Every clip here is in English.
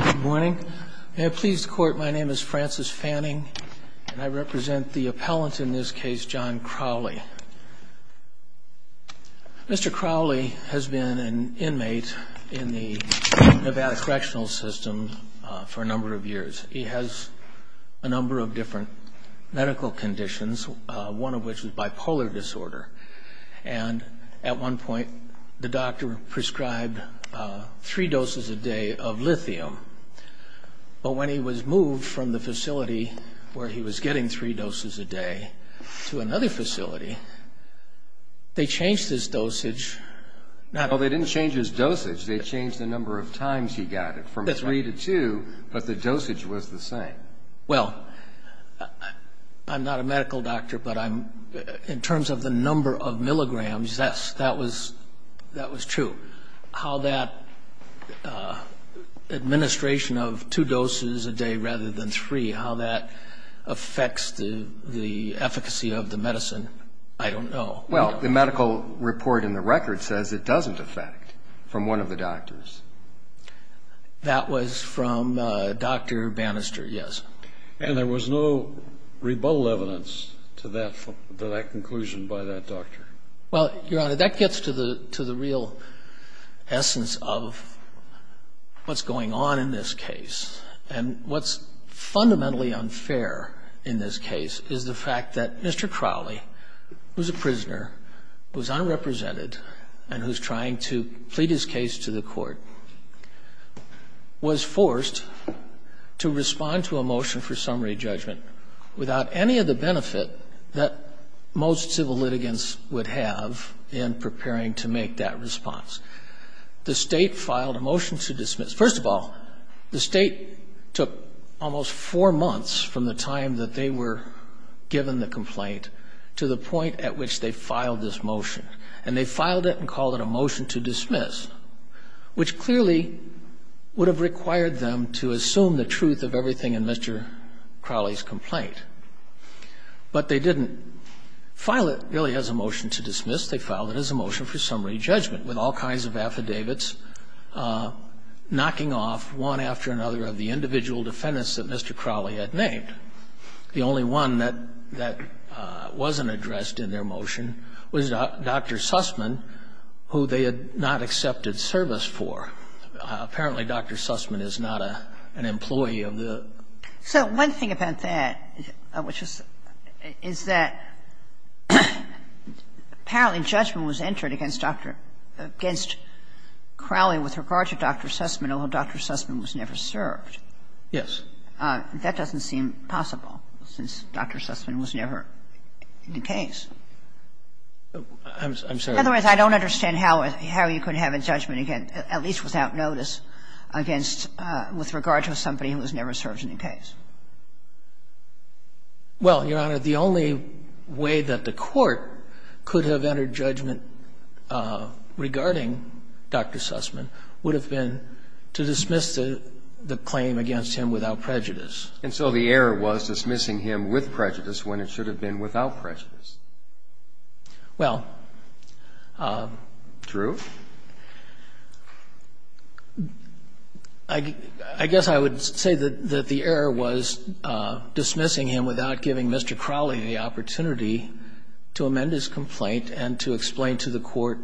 Good morning. May it please the court, my name is Francis Fanning and I represent the appellant in this case, John Crowley. Mr. Crowley has been an inmate in the Nevada Correctional System for a number of years. He has a number of different medical conditions, one of which is bipolar disorder, and at one point the of lithium, but when he was moved from the facility where he was getting three doses a day to another facility, they changed his dosage. Well, they didn't change his dosage, they changed the number of times he got it, from three to two, but the dosage was the same. Well, I'm not a medical doctor, but in terms of the number of milligrams, yes, that was true. How that administration of two doses a day rather than three, how that affects the efficacy of the medicine, I don't know. Well, the medical report in the record says it doesn't affect from one of the doctors. That was from Dr. Bannister, yes. And there was no rebuttal evidence to that conclusion by that doctor? Well, Your Honor, that gets to the real essence of what's going on in this case. And what's fundamentally unfair in this case is the fact that Mr. Crowley, who's a prisoner, who's unrepresented, and who's trying to plead his case to the Court, was forced to respond to a motion for summary judgment without any of the benefit that most civil litigants would have in preparing to make that response. The State filed a motion to dismiss. First of all, the State took almost four months from the time that they were given the complaint to the point at which they filed this motion. And they filed it and called it a motion to dismiss, which clearly would have required them to assume the truth of everything in Mr. Crowley's complaint. But they didn't file it really as a motion to dismiss. They filed it as a motion for summary judgment, with all kinds of affidavits knocking off one after another of the individual defendants that Mr. Crowley had named. The only one that wasn't addressed in their motion was Dr. Sussman, who they had not accepted service for. Apparently, Dr. Sussman is not an employee of the State. Kagan. So one thing about that, which is that apparently judgment was entered against Dr. – against Crowley with regard to Dr. Sussman, although Dr. Sussman was never served. Yes. That doesn't seem possible, since Dr. Sussman was never in the case. I'm sorry. Otherwise, I don't understand how you could have a judgment against, at least without prior notice, against – with regard to somebody who was never served in the case. Well, Your Honor, the only way that the Court could have entered judgment regarding Dr. Sussman would have been to dismiss the claim against him without prejudice. And so the error was dismissing him with prejudice when it should have been without I guess I would say that the error was dismissing him without giving Mr. Crowley the opportunity to amend his complaint and to explain to the Court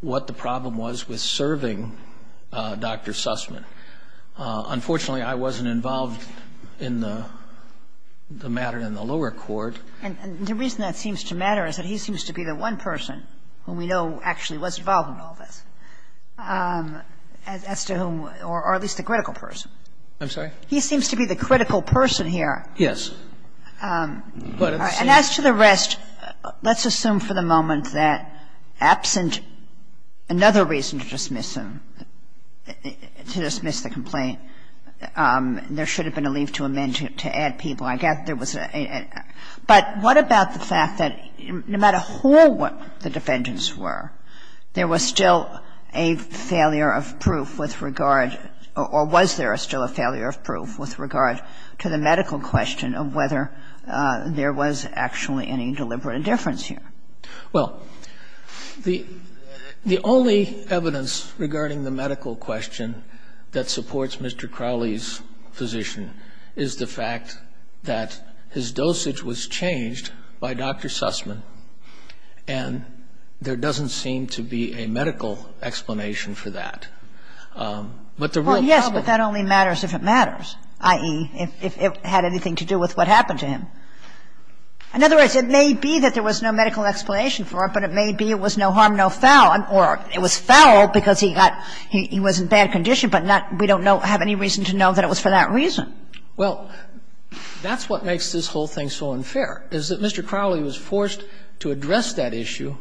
what the problem was with serving Dr. Sussman. Unfortunately, I wasn't involved in the matter in the lower court. And the reason that seems to matter is that he seems to be the one person who we know actually was involved in all this. As to whom – or at least the critical person. I'm sorry? He seems to be the critical person here. Yes. And as to the rest, let's assume for the moment that absent another reason to dismiss him, to dismiss the complaint, there should have been a leave to amend to add people. I guess there was a – but what about the fact that no matter who the defendants were, there was still a failure of proof with regard – or was there still a failure of proof with regard to the medical question of whether there was actually any deliberate indifference here? Well, the only evidence regarding the medical question that supports Mr. Crowley's physician is the fact that his dosage was changed by Dr. Sussman and their dosage was changed by Dr. Sussman. was forced to address that issue. It doesn't seem to be a medical explanation for that. But the real problem – Well, yes, but that only matters if it matters, i.e., if it had anything to do with what happened to him. In other words, it may be that there was no medical explanation for it, but it may be it was no harm, no foul, or it was foul because he got – he was in bad condition, but not – we don't know – have any reason to know that it was for that reason. Well, that's what makes this whole thing so unfair, is that Mr. Crowley was forced to address that issue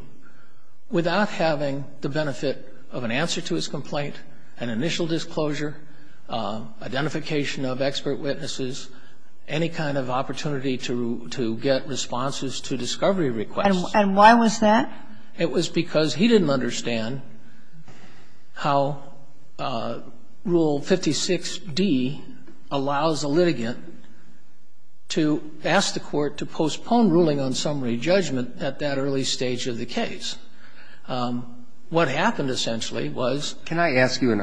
without having the benefit of an answer to his complaint, an initial disclosure, identification of expert witnesses, any kind of opportunity to get responses to discovery requests. And why was that? It was because he didn't understand how Rule 56d allows a litigant to ask the court to postpone ruling on summary judgment at that early stage of the case. What happened, essentially, was – Can I ask you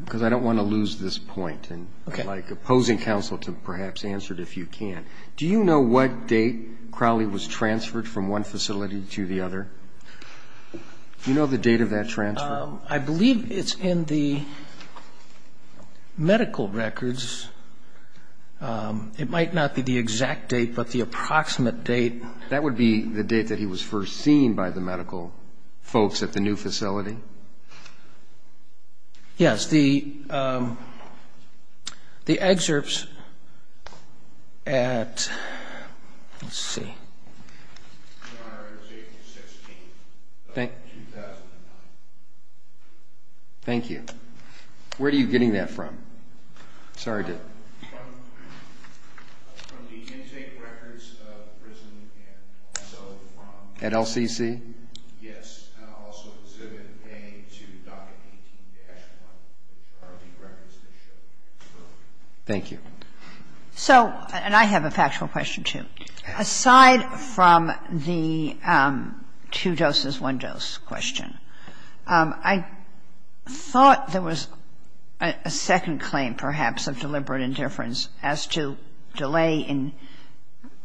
– because I don't want to lose this point, and I'd like opposing counsel to perhaps answer it if you can. Do you know what date Crowley was transferred from one facility to the other? Do you know the date of that transfer? I believe it's in the medical records. It might not be the exact date, but the approximate date. That would be the date that he was first seen by the medical folks at the new facility? Yes, the excerpts at – let's see. Thank you. Where are you getting that from? Sorry to – At LCC? Yes. And I'll also exhibit A to Docket 18-1, which are the records that show Crowley. Thank you. So – and I have a factual question, too. Aside from the two doses, one dose question, I thought there was a second claim perhaps of deliberate indifference as to delay in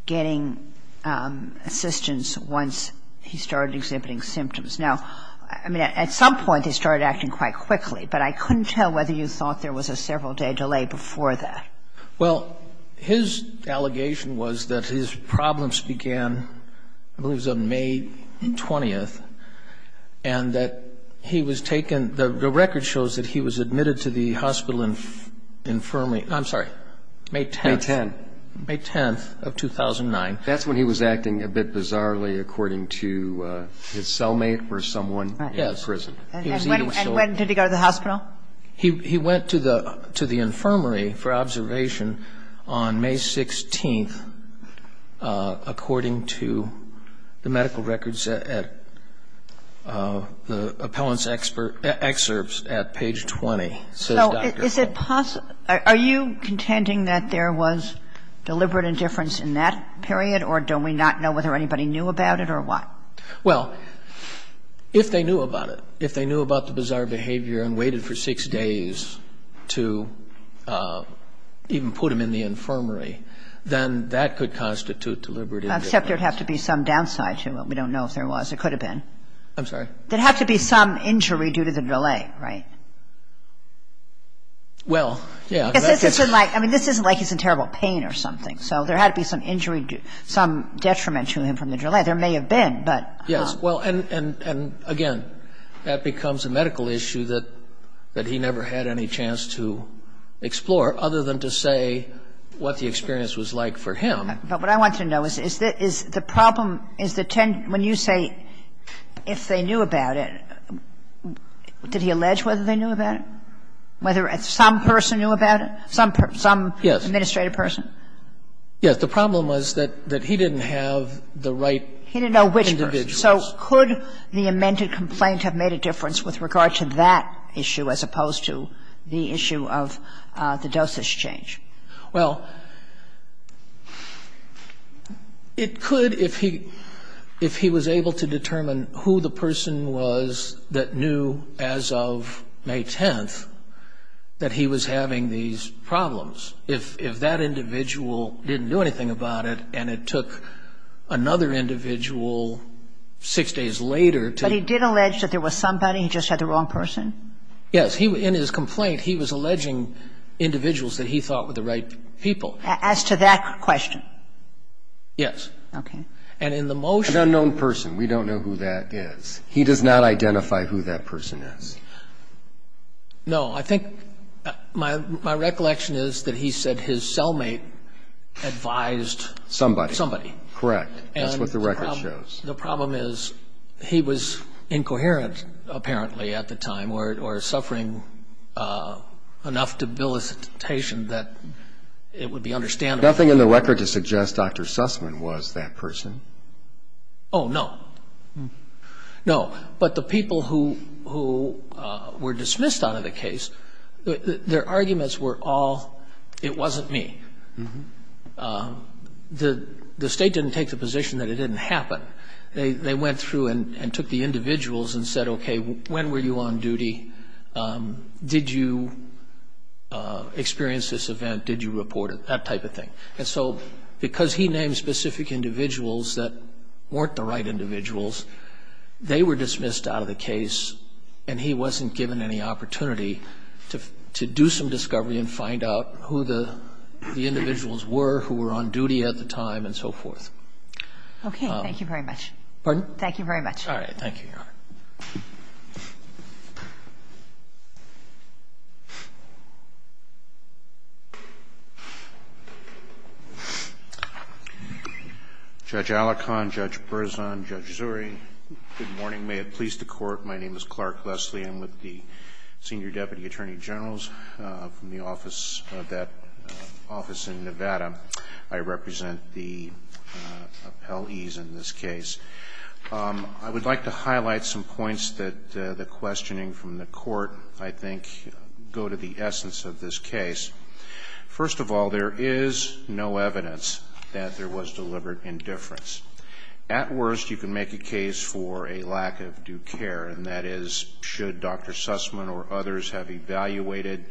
getting assistance once he started exhibiting symptoms. Now, I mean, at some point he started acting quite quickly, but I couldn't tell whether you thought there was a several-day delay before that. Well, his allegation was that his problems began, I believe it was on May 20th, and that he was taken – the record shows that he was admitted to the hospital in – I'm sorry, May 10th. May 10th. May 10th of 2009. That's when he was acting a bit bizarrely, according to his cellmate or someone in prison. And when did he go to the hospital? He went to the infirmary for observation on May 16th, according to the medical records at – the appellant's excerpts at page 20, says doctor. Is it possible – are you contending that there was deliberate indifference in that period, or do we not know whether anybody knew about it or what? Well, if they knew about it, if they knew about the bizarre behavior and waited for six days to even put him in the infirmary, then that could constitute deliberate indifference. Except there would have to be some downside to it. We don't know if there was. It could have been. I'm sorry? There'd have to be some injury due to the delay, right? Well, yeah. Because this isn't like – I mean, this isn't like he's in terrible pain or something. So there had to be some injury due – some detriment to him from the delay. There may have been, but – Yes. Well, and again, that becomes a medical issue that he never had any chance to explore, other than to say what the experience was like for him. But what I want to know is, is the problem – is the – when you say if they knew about it, did he allege whether they knew about it? Whether some person knew about it? Some – some administrative person? Yes. The problem was that he didn't have the right individuals. He didn't know which person. So could the amended complaint have made a difference with regard to that issue as opposed to the issue of the dosage change? Well, it could if he – if he was able to determine who the person was that knew as of May 10th that he was having these problems. If that individual didn't do anything about it and it took another individual six days later to – But he did allege that there was somebody, he just had the wrong person? Yes. In his complaint, he was alleging individuals that he thought were the right people. As to that question? Yes. Okay. And in the motion – An unknown person. We don't know who that is. He does not identify who that person is. No. I think – my recollection is that he said his cellmate advised somebody. Somebody. Correct. That's what the record shows. The problem is he was incoherent, apparently, at the time or suffering enough debilitation that it would be understandable. Nothing in the record to suggest Dr. Sussman was that person. Oh, no. No. But the people who were dismissed out of the case, their arguments were all, it wasn't me. The state didn't take the position that it didn't happen. They went through and took the individuals and said, okay, when were you on duty? Did you experience this event? Did you report it? That type of thing. And so because he named specific individuals that weren't the right individuals, they were dismissed out of the case and he wasn't given any opportunity to do some of the things that the individuals were who were on duty at the time and so forth. Okay. Thank you very much. Pardon? Thank you very much. All right. Thank you, Your Honor. Judge Alicon, Judge Berzon, Judge Zuri, good morning. May it please the Court, my name is Clark Leslie. I'm with the Senior Deputy Attorney General's from the office of that office in Nevada. I represent the appellees in this case. I would like to highlight some points that the questioning from the court, I think, go to the essence of this case. First of all, there is no evidence that there was deliberate indifference. At worst, you can make a case for a lack of due care and that is should Dr. Sussman or others have evaluated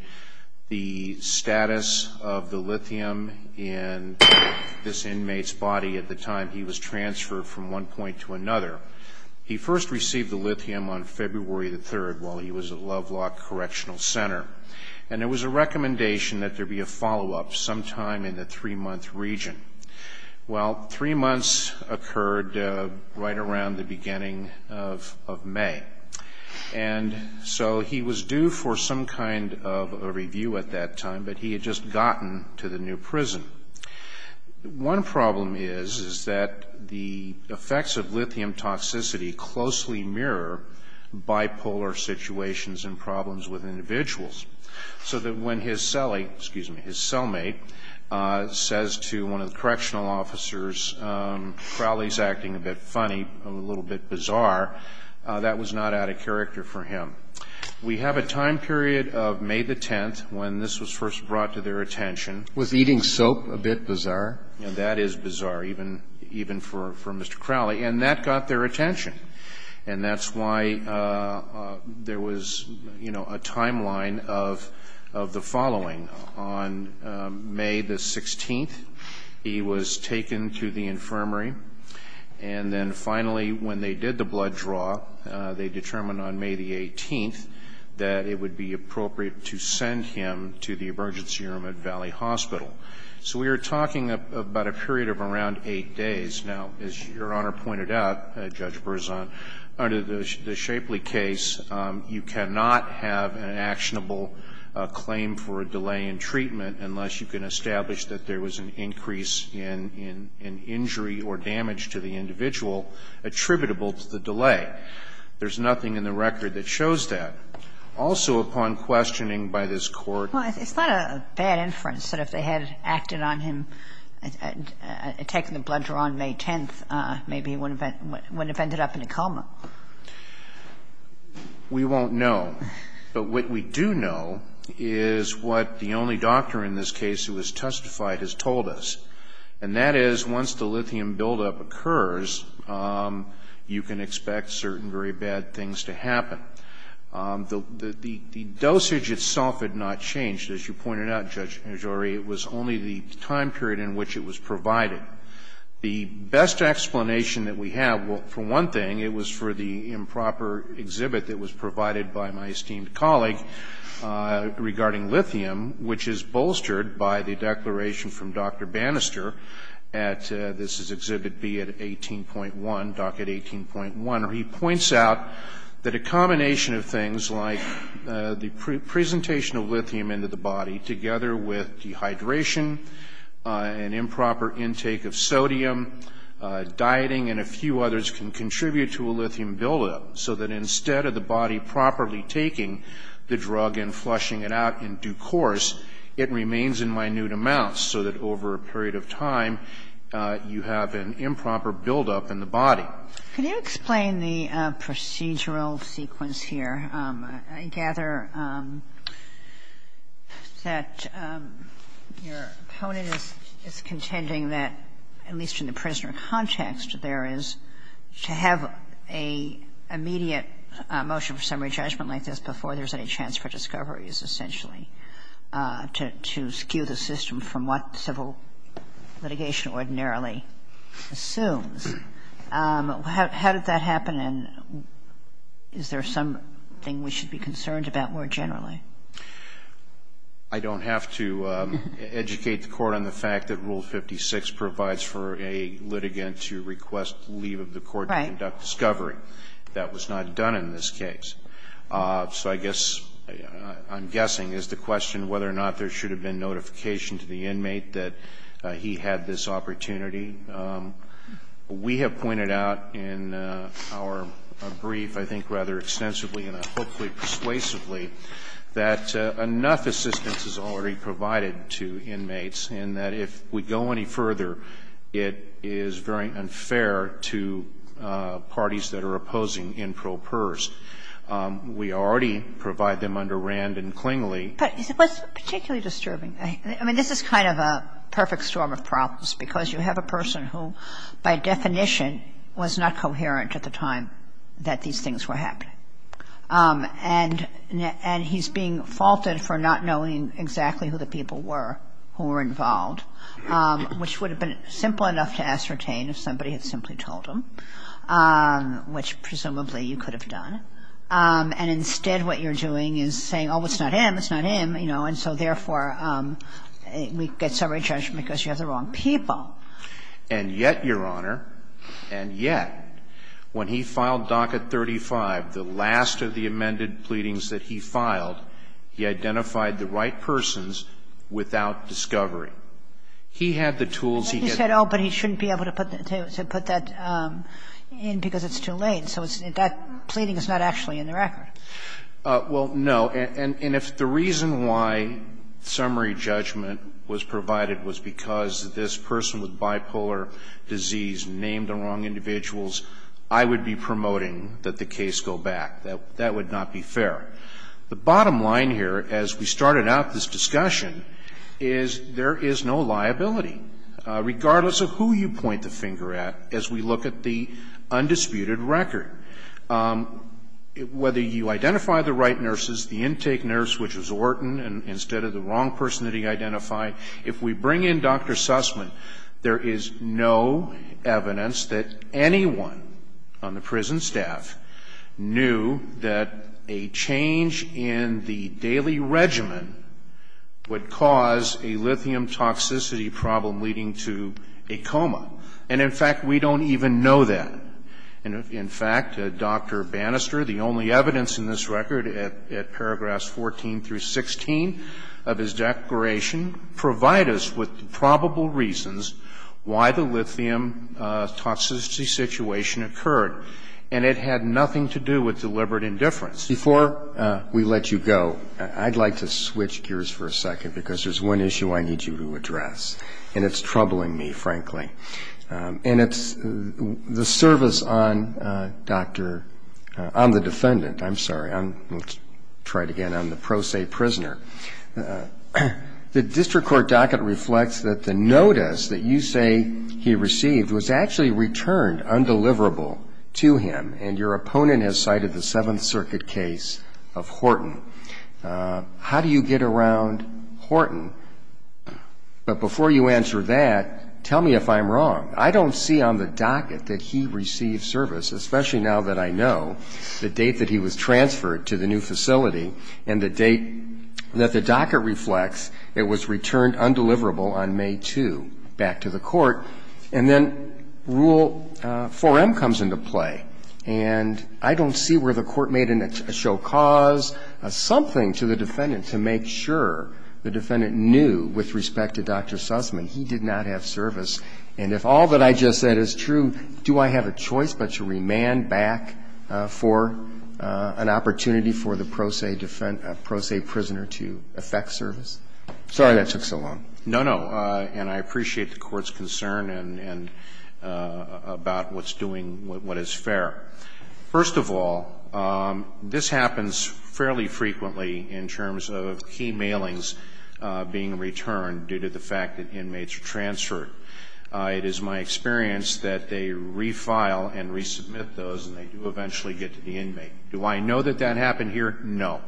the status of the lithium in this inmate's body at the time he was transferred from one point to another. He first received the lithium on February the 3rd while he was at Lovelock Correctional Center. And there was a recommendation that there be a follow-up sometime in the three-month region. Well, three months occurred right around the beginning of May. And so he was due for some kind of a review at that time, but he had just gotten to the new prison. One problem is, is that the effects of lithium toxicity closely mirror bipolar situations and problems with individuals. So that when his cellmate says to one of the correctional officers, Crowley's acting a bit funny, a little bit bizarre, that was not out of character for him. We have a time period of May the 10th when this was first brought to their attention. Was eating soap a bit bizarre? That is bizarre, even for Mr. Crowley. And that got their attention. And that's why there was, you know, a timeline of the following. On May the 16th, he was taken to the infirmary. And then finally, when they did the blood draw, they determined on May the 18th that it would be appropriate to send him to the emergency room at Valley Hospital. So we are talking about a period of around eight days. Now, as Your Honor pointed out, Judge Berzon, under the Shapley case, you cannot have an actionable claim for a delay in treatment unless you can establish that there was an increase in injury or damage to the individual attributable to the delay. There's nothing in the record that shows that. Also, upon questioning by this Court of the Court of Appeals, there was a delay But we can assume that, on May 10th, maybe he wouldn't have ended up in a coma. We won't know. But what we do know is what the only doctor in this case who has testified has told us. And that is, once the lithium buildup occurs, you can expect certain very bad things to happen. The dosage itself had not changed. As you pointed out, Judge Agiore, it was only the time period in which it was provided. The best explanation that we have, for one thing, it was for the improper exhibit that was provided by my esteemed colleague regarding lithium, which is bolstered by the declaration from Dr. Bannister at this is Exhibit B at 18.1, docket 18.1. He points out that a combination of things like the presentation of lithium into the body together with dehydration, an improper intake of sodium, dieting and a few others can contribute to a lithium buildup, so that instead of the body properly taking the drug and flushing it out in due course, it remains in minute amounts, so that over a period of time, you have an improper buildup in the body. Kagan. Kagan. Can you explain the procedural sequence here? I gather that your opponent is contending that, at least in the prisoner context, there is to have an immediate motion for summary judgment like this before there's any chance for discoveries, essentially, to skew the system from what civil litigation ordinarily assumes. How did that happen, and is there something we should be concerned about more generally? I don't have to educate the Court on the fact that Rule 56 provides for a litigant to request leave of the court to conduct discovery. Right. That was not done in this case. So I guess, I'm guessing, is the question whether or not there should have been notification to the inmate that he had this opportunity. We have pointed out in our brief, I think rather extensively and hopefully persuasively, that enough assistance is already provided to inmates, and that if we go any further, it is very unfair to parties that are opposing impropers. We already provide them under Rand and Klingley. But it's particularly disturbing. I mean, this is kind of a perfect storm of problems, because you have a person who, by definition, was not coherent at the time that these things were happening. And he's being faulted for not knowing exactly who the people were who were involved, which would have been simple enough to ascertain if somebody had simply told him, which presumably you could have done. And instead, what you're doing is saying, oh, it's not him, it's not him, you know. And so therefore, we get summary judgment because you have the wrong people. And yet, Your Honor, and yet, when he filed Docket 35, the last of the amended pleadings that he filed, he identified the right persons without discovery. He had the tools he had. And he said, oh, but he shouldn't be able to put that in because it's too late. So that pleading is not actually in the record. Well, no. And if the reason why summary judgment was provided was because this person with bipolar disease named the wrong individuals, I would be promoting that the case go back. That would not be fair. The bottom line here, as we started out this discussion, is there is no liability. Regardless of who you point the finger at, as we look at the undisputed record, whether you identify the right nurses, the intake nurse, which was Orton instead of the wrong person that he identified, if we bring in Dr. Sussman, there is no evidence that anyone on the prison staff knew that a change in the daily And, in fact, we don't even know that. In fact, Dr. Bannister, the only evidence in this record at paragraphs 14 through 16 of his declaration, provide us with probable reasons why the lithium toxicity situation occurred, and it had nothing to do with deliberate indifference. Before we let you go, I'd like to switch gears for a second because there's one issue I need you to address. And it's troubling me, frankly. And it's the service on the defendant. I'm sorry, let's try it again. I'm the pro se prisoner. The district court docket reflects that the notice that you say he received was actually returned undeliverable to him, and your opponent has cited the Seventh Circuit case of Horton. How do you get around Horton? But before you answer that, tell me if I'm wrong. I don't see on the docket that he received service, especially now that I know the date that he was transferred to the new facility and the date that the docket reflects it was returned undeliverable on May 2, back to the court. And then Rule 4M comes into play, and I don't see where the court made a show of force to cause something to the defendant to make sure the defendant knew with respect to Dr. Sussman he did not have service. And if all that I just said is true, do I have a choice but to remand back for an opportunity for the pro se prisoner to effect service? Sorry that took so long. No, no. And I appreciate the Court's concern about what's doing what is fair. First of all, this happens fairly frequently in terms of key mailings being returned due to the fact that inmates are transferred. It is my experience that they refile and resubmit those, and they do eventually get to the inmate. Do I know that that happened here? No.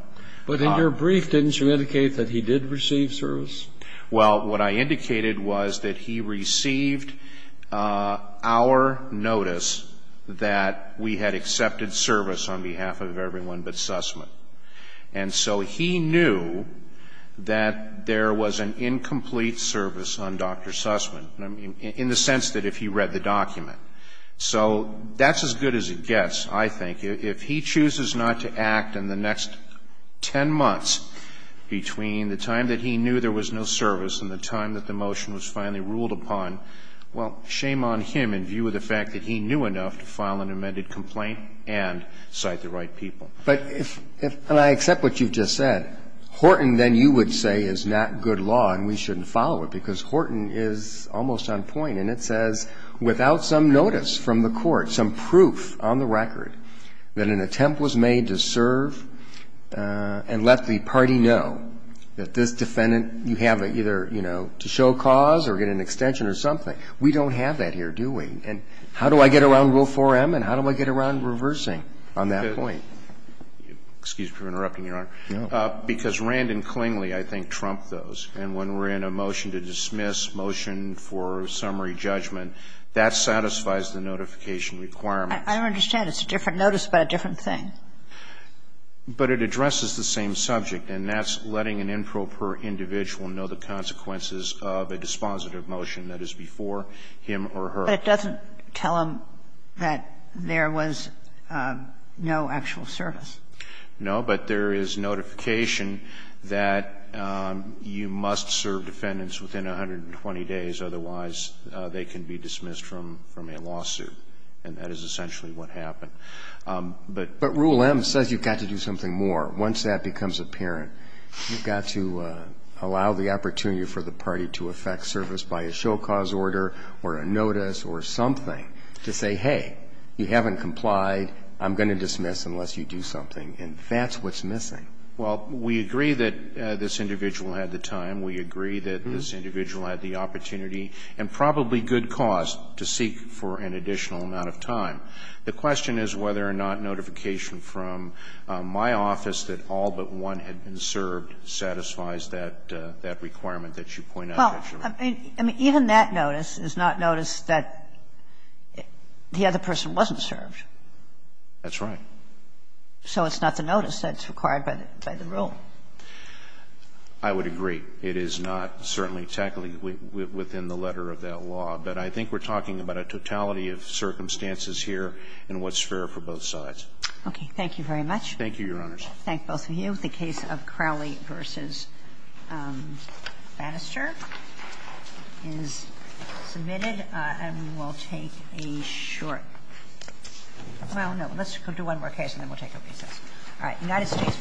But in your brief, didn't you indicate that he did receive service? Well, what I indicated was that he received our notice that we had accepted service on behalf of everyone but Sussman. And so he knew that there was an incomplete service on Dr. Sussman, in the sense that if he read the document. So that's as good as it gets, I think. If he chooses not to act in the next 10 months between the time that he knew there was no service and the time that the motion was finally ruled upon, well, shame on him in view of the fact that he knew enough to file an amended complaint and cite the right people. But if, and I accept what you've just said, Horton then you would say is not good law, and we shouldn't follow it, because Horton is almost on point. And it says, without some notice from the Court, some proof on the record that an And you have to either, you know, to show cause or get an extension or something. We don't have that here, do we? And how do I get around Rule 4M and how do I get around reversing on that point? Excuse me for interrupting, Your Honor. No. Because Rand and Clingley, I think, trump those. And when we're in a motion to dismiss, motion for summary judgment, that satisfies the notification requirements. I don't understand. It's a different notice, but a different thing. But it addresses the same subject, and that's letting an improper individual know the consequences of a dispositive motion that is before him or her. But it doesn't tell them that there was no actual service. No. But there is notification that you must serve defendants within 120 days, otherwise they can be dismissed from a lawsuit. And that is essentially what happened. But Rule M says you've got to do something more. Once that becomes apparent, you've got to allow the opportunity for the party to affect service by a show cause order or a notice or something to say, hey, you haven't complied, I'm going to dismiss unless you do something. And that's what's missing. Well, we agree that this individual had the time. We agree that this individual had the opportunity and probably good cause to seek for an additional amount of time. The question is whether or not notification from my office that all but one had been served satisfies that requirement that you point out. Well, I mean, even that notice is not notice that the other person wasn't served. That's right. So it's not the notice that's required by the rule. I would agree. It is not certainly technically within the letter of that law. But I think we're talking about a totality of circumstances here and what's fair for both sides. Okay. Thank you very much. Thank you, Your Honors. I thank both of you. The case of Crowley v. Bannister is submitted. And we will take a short break. Well, no, let's do one more case and then we'll take a recess. All right. United States v. Crowley.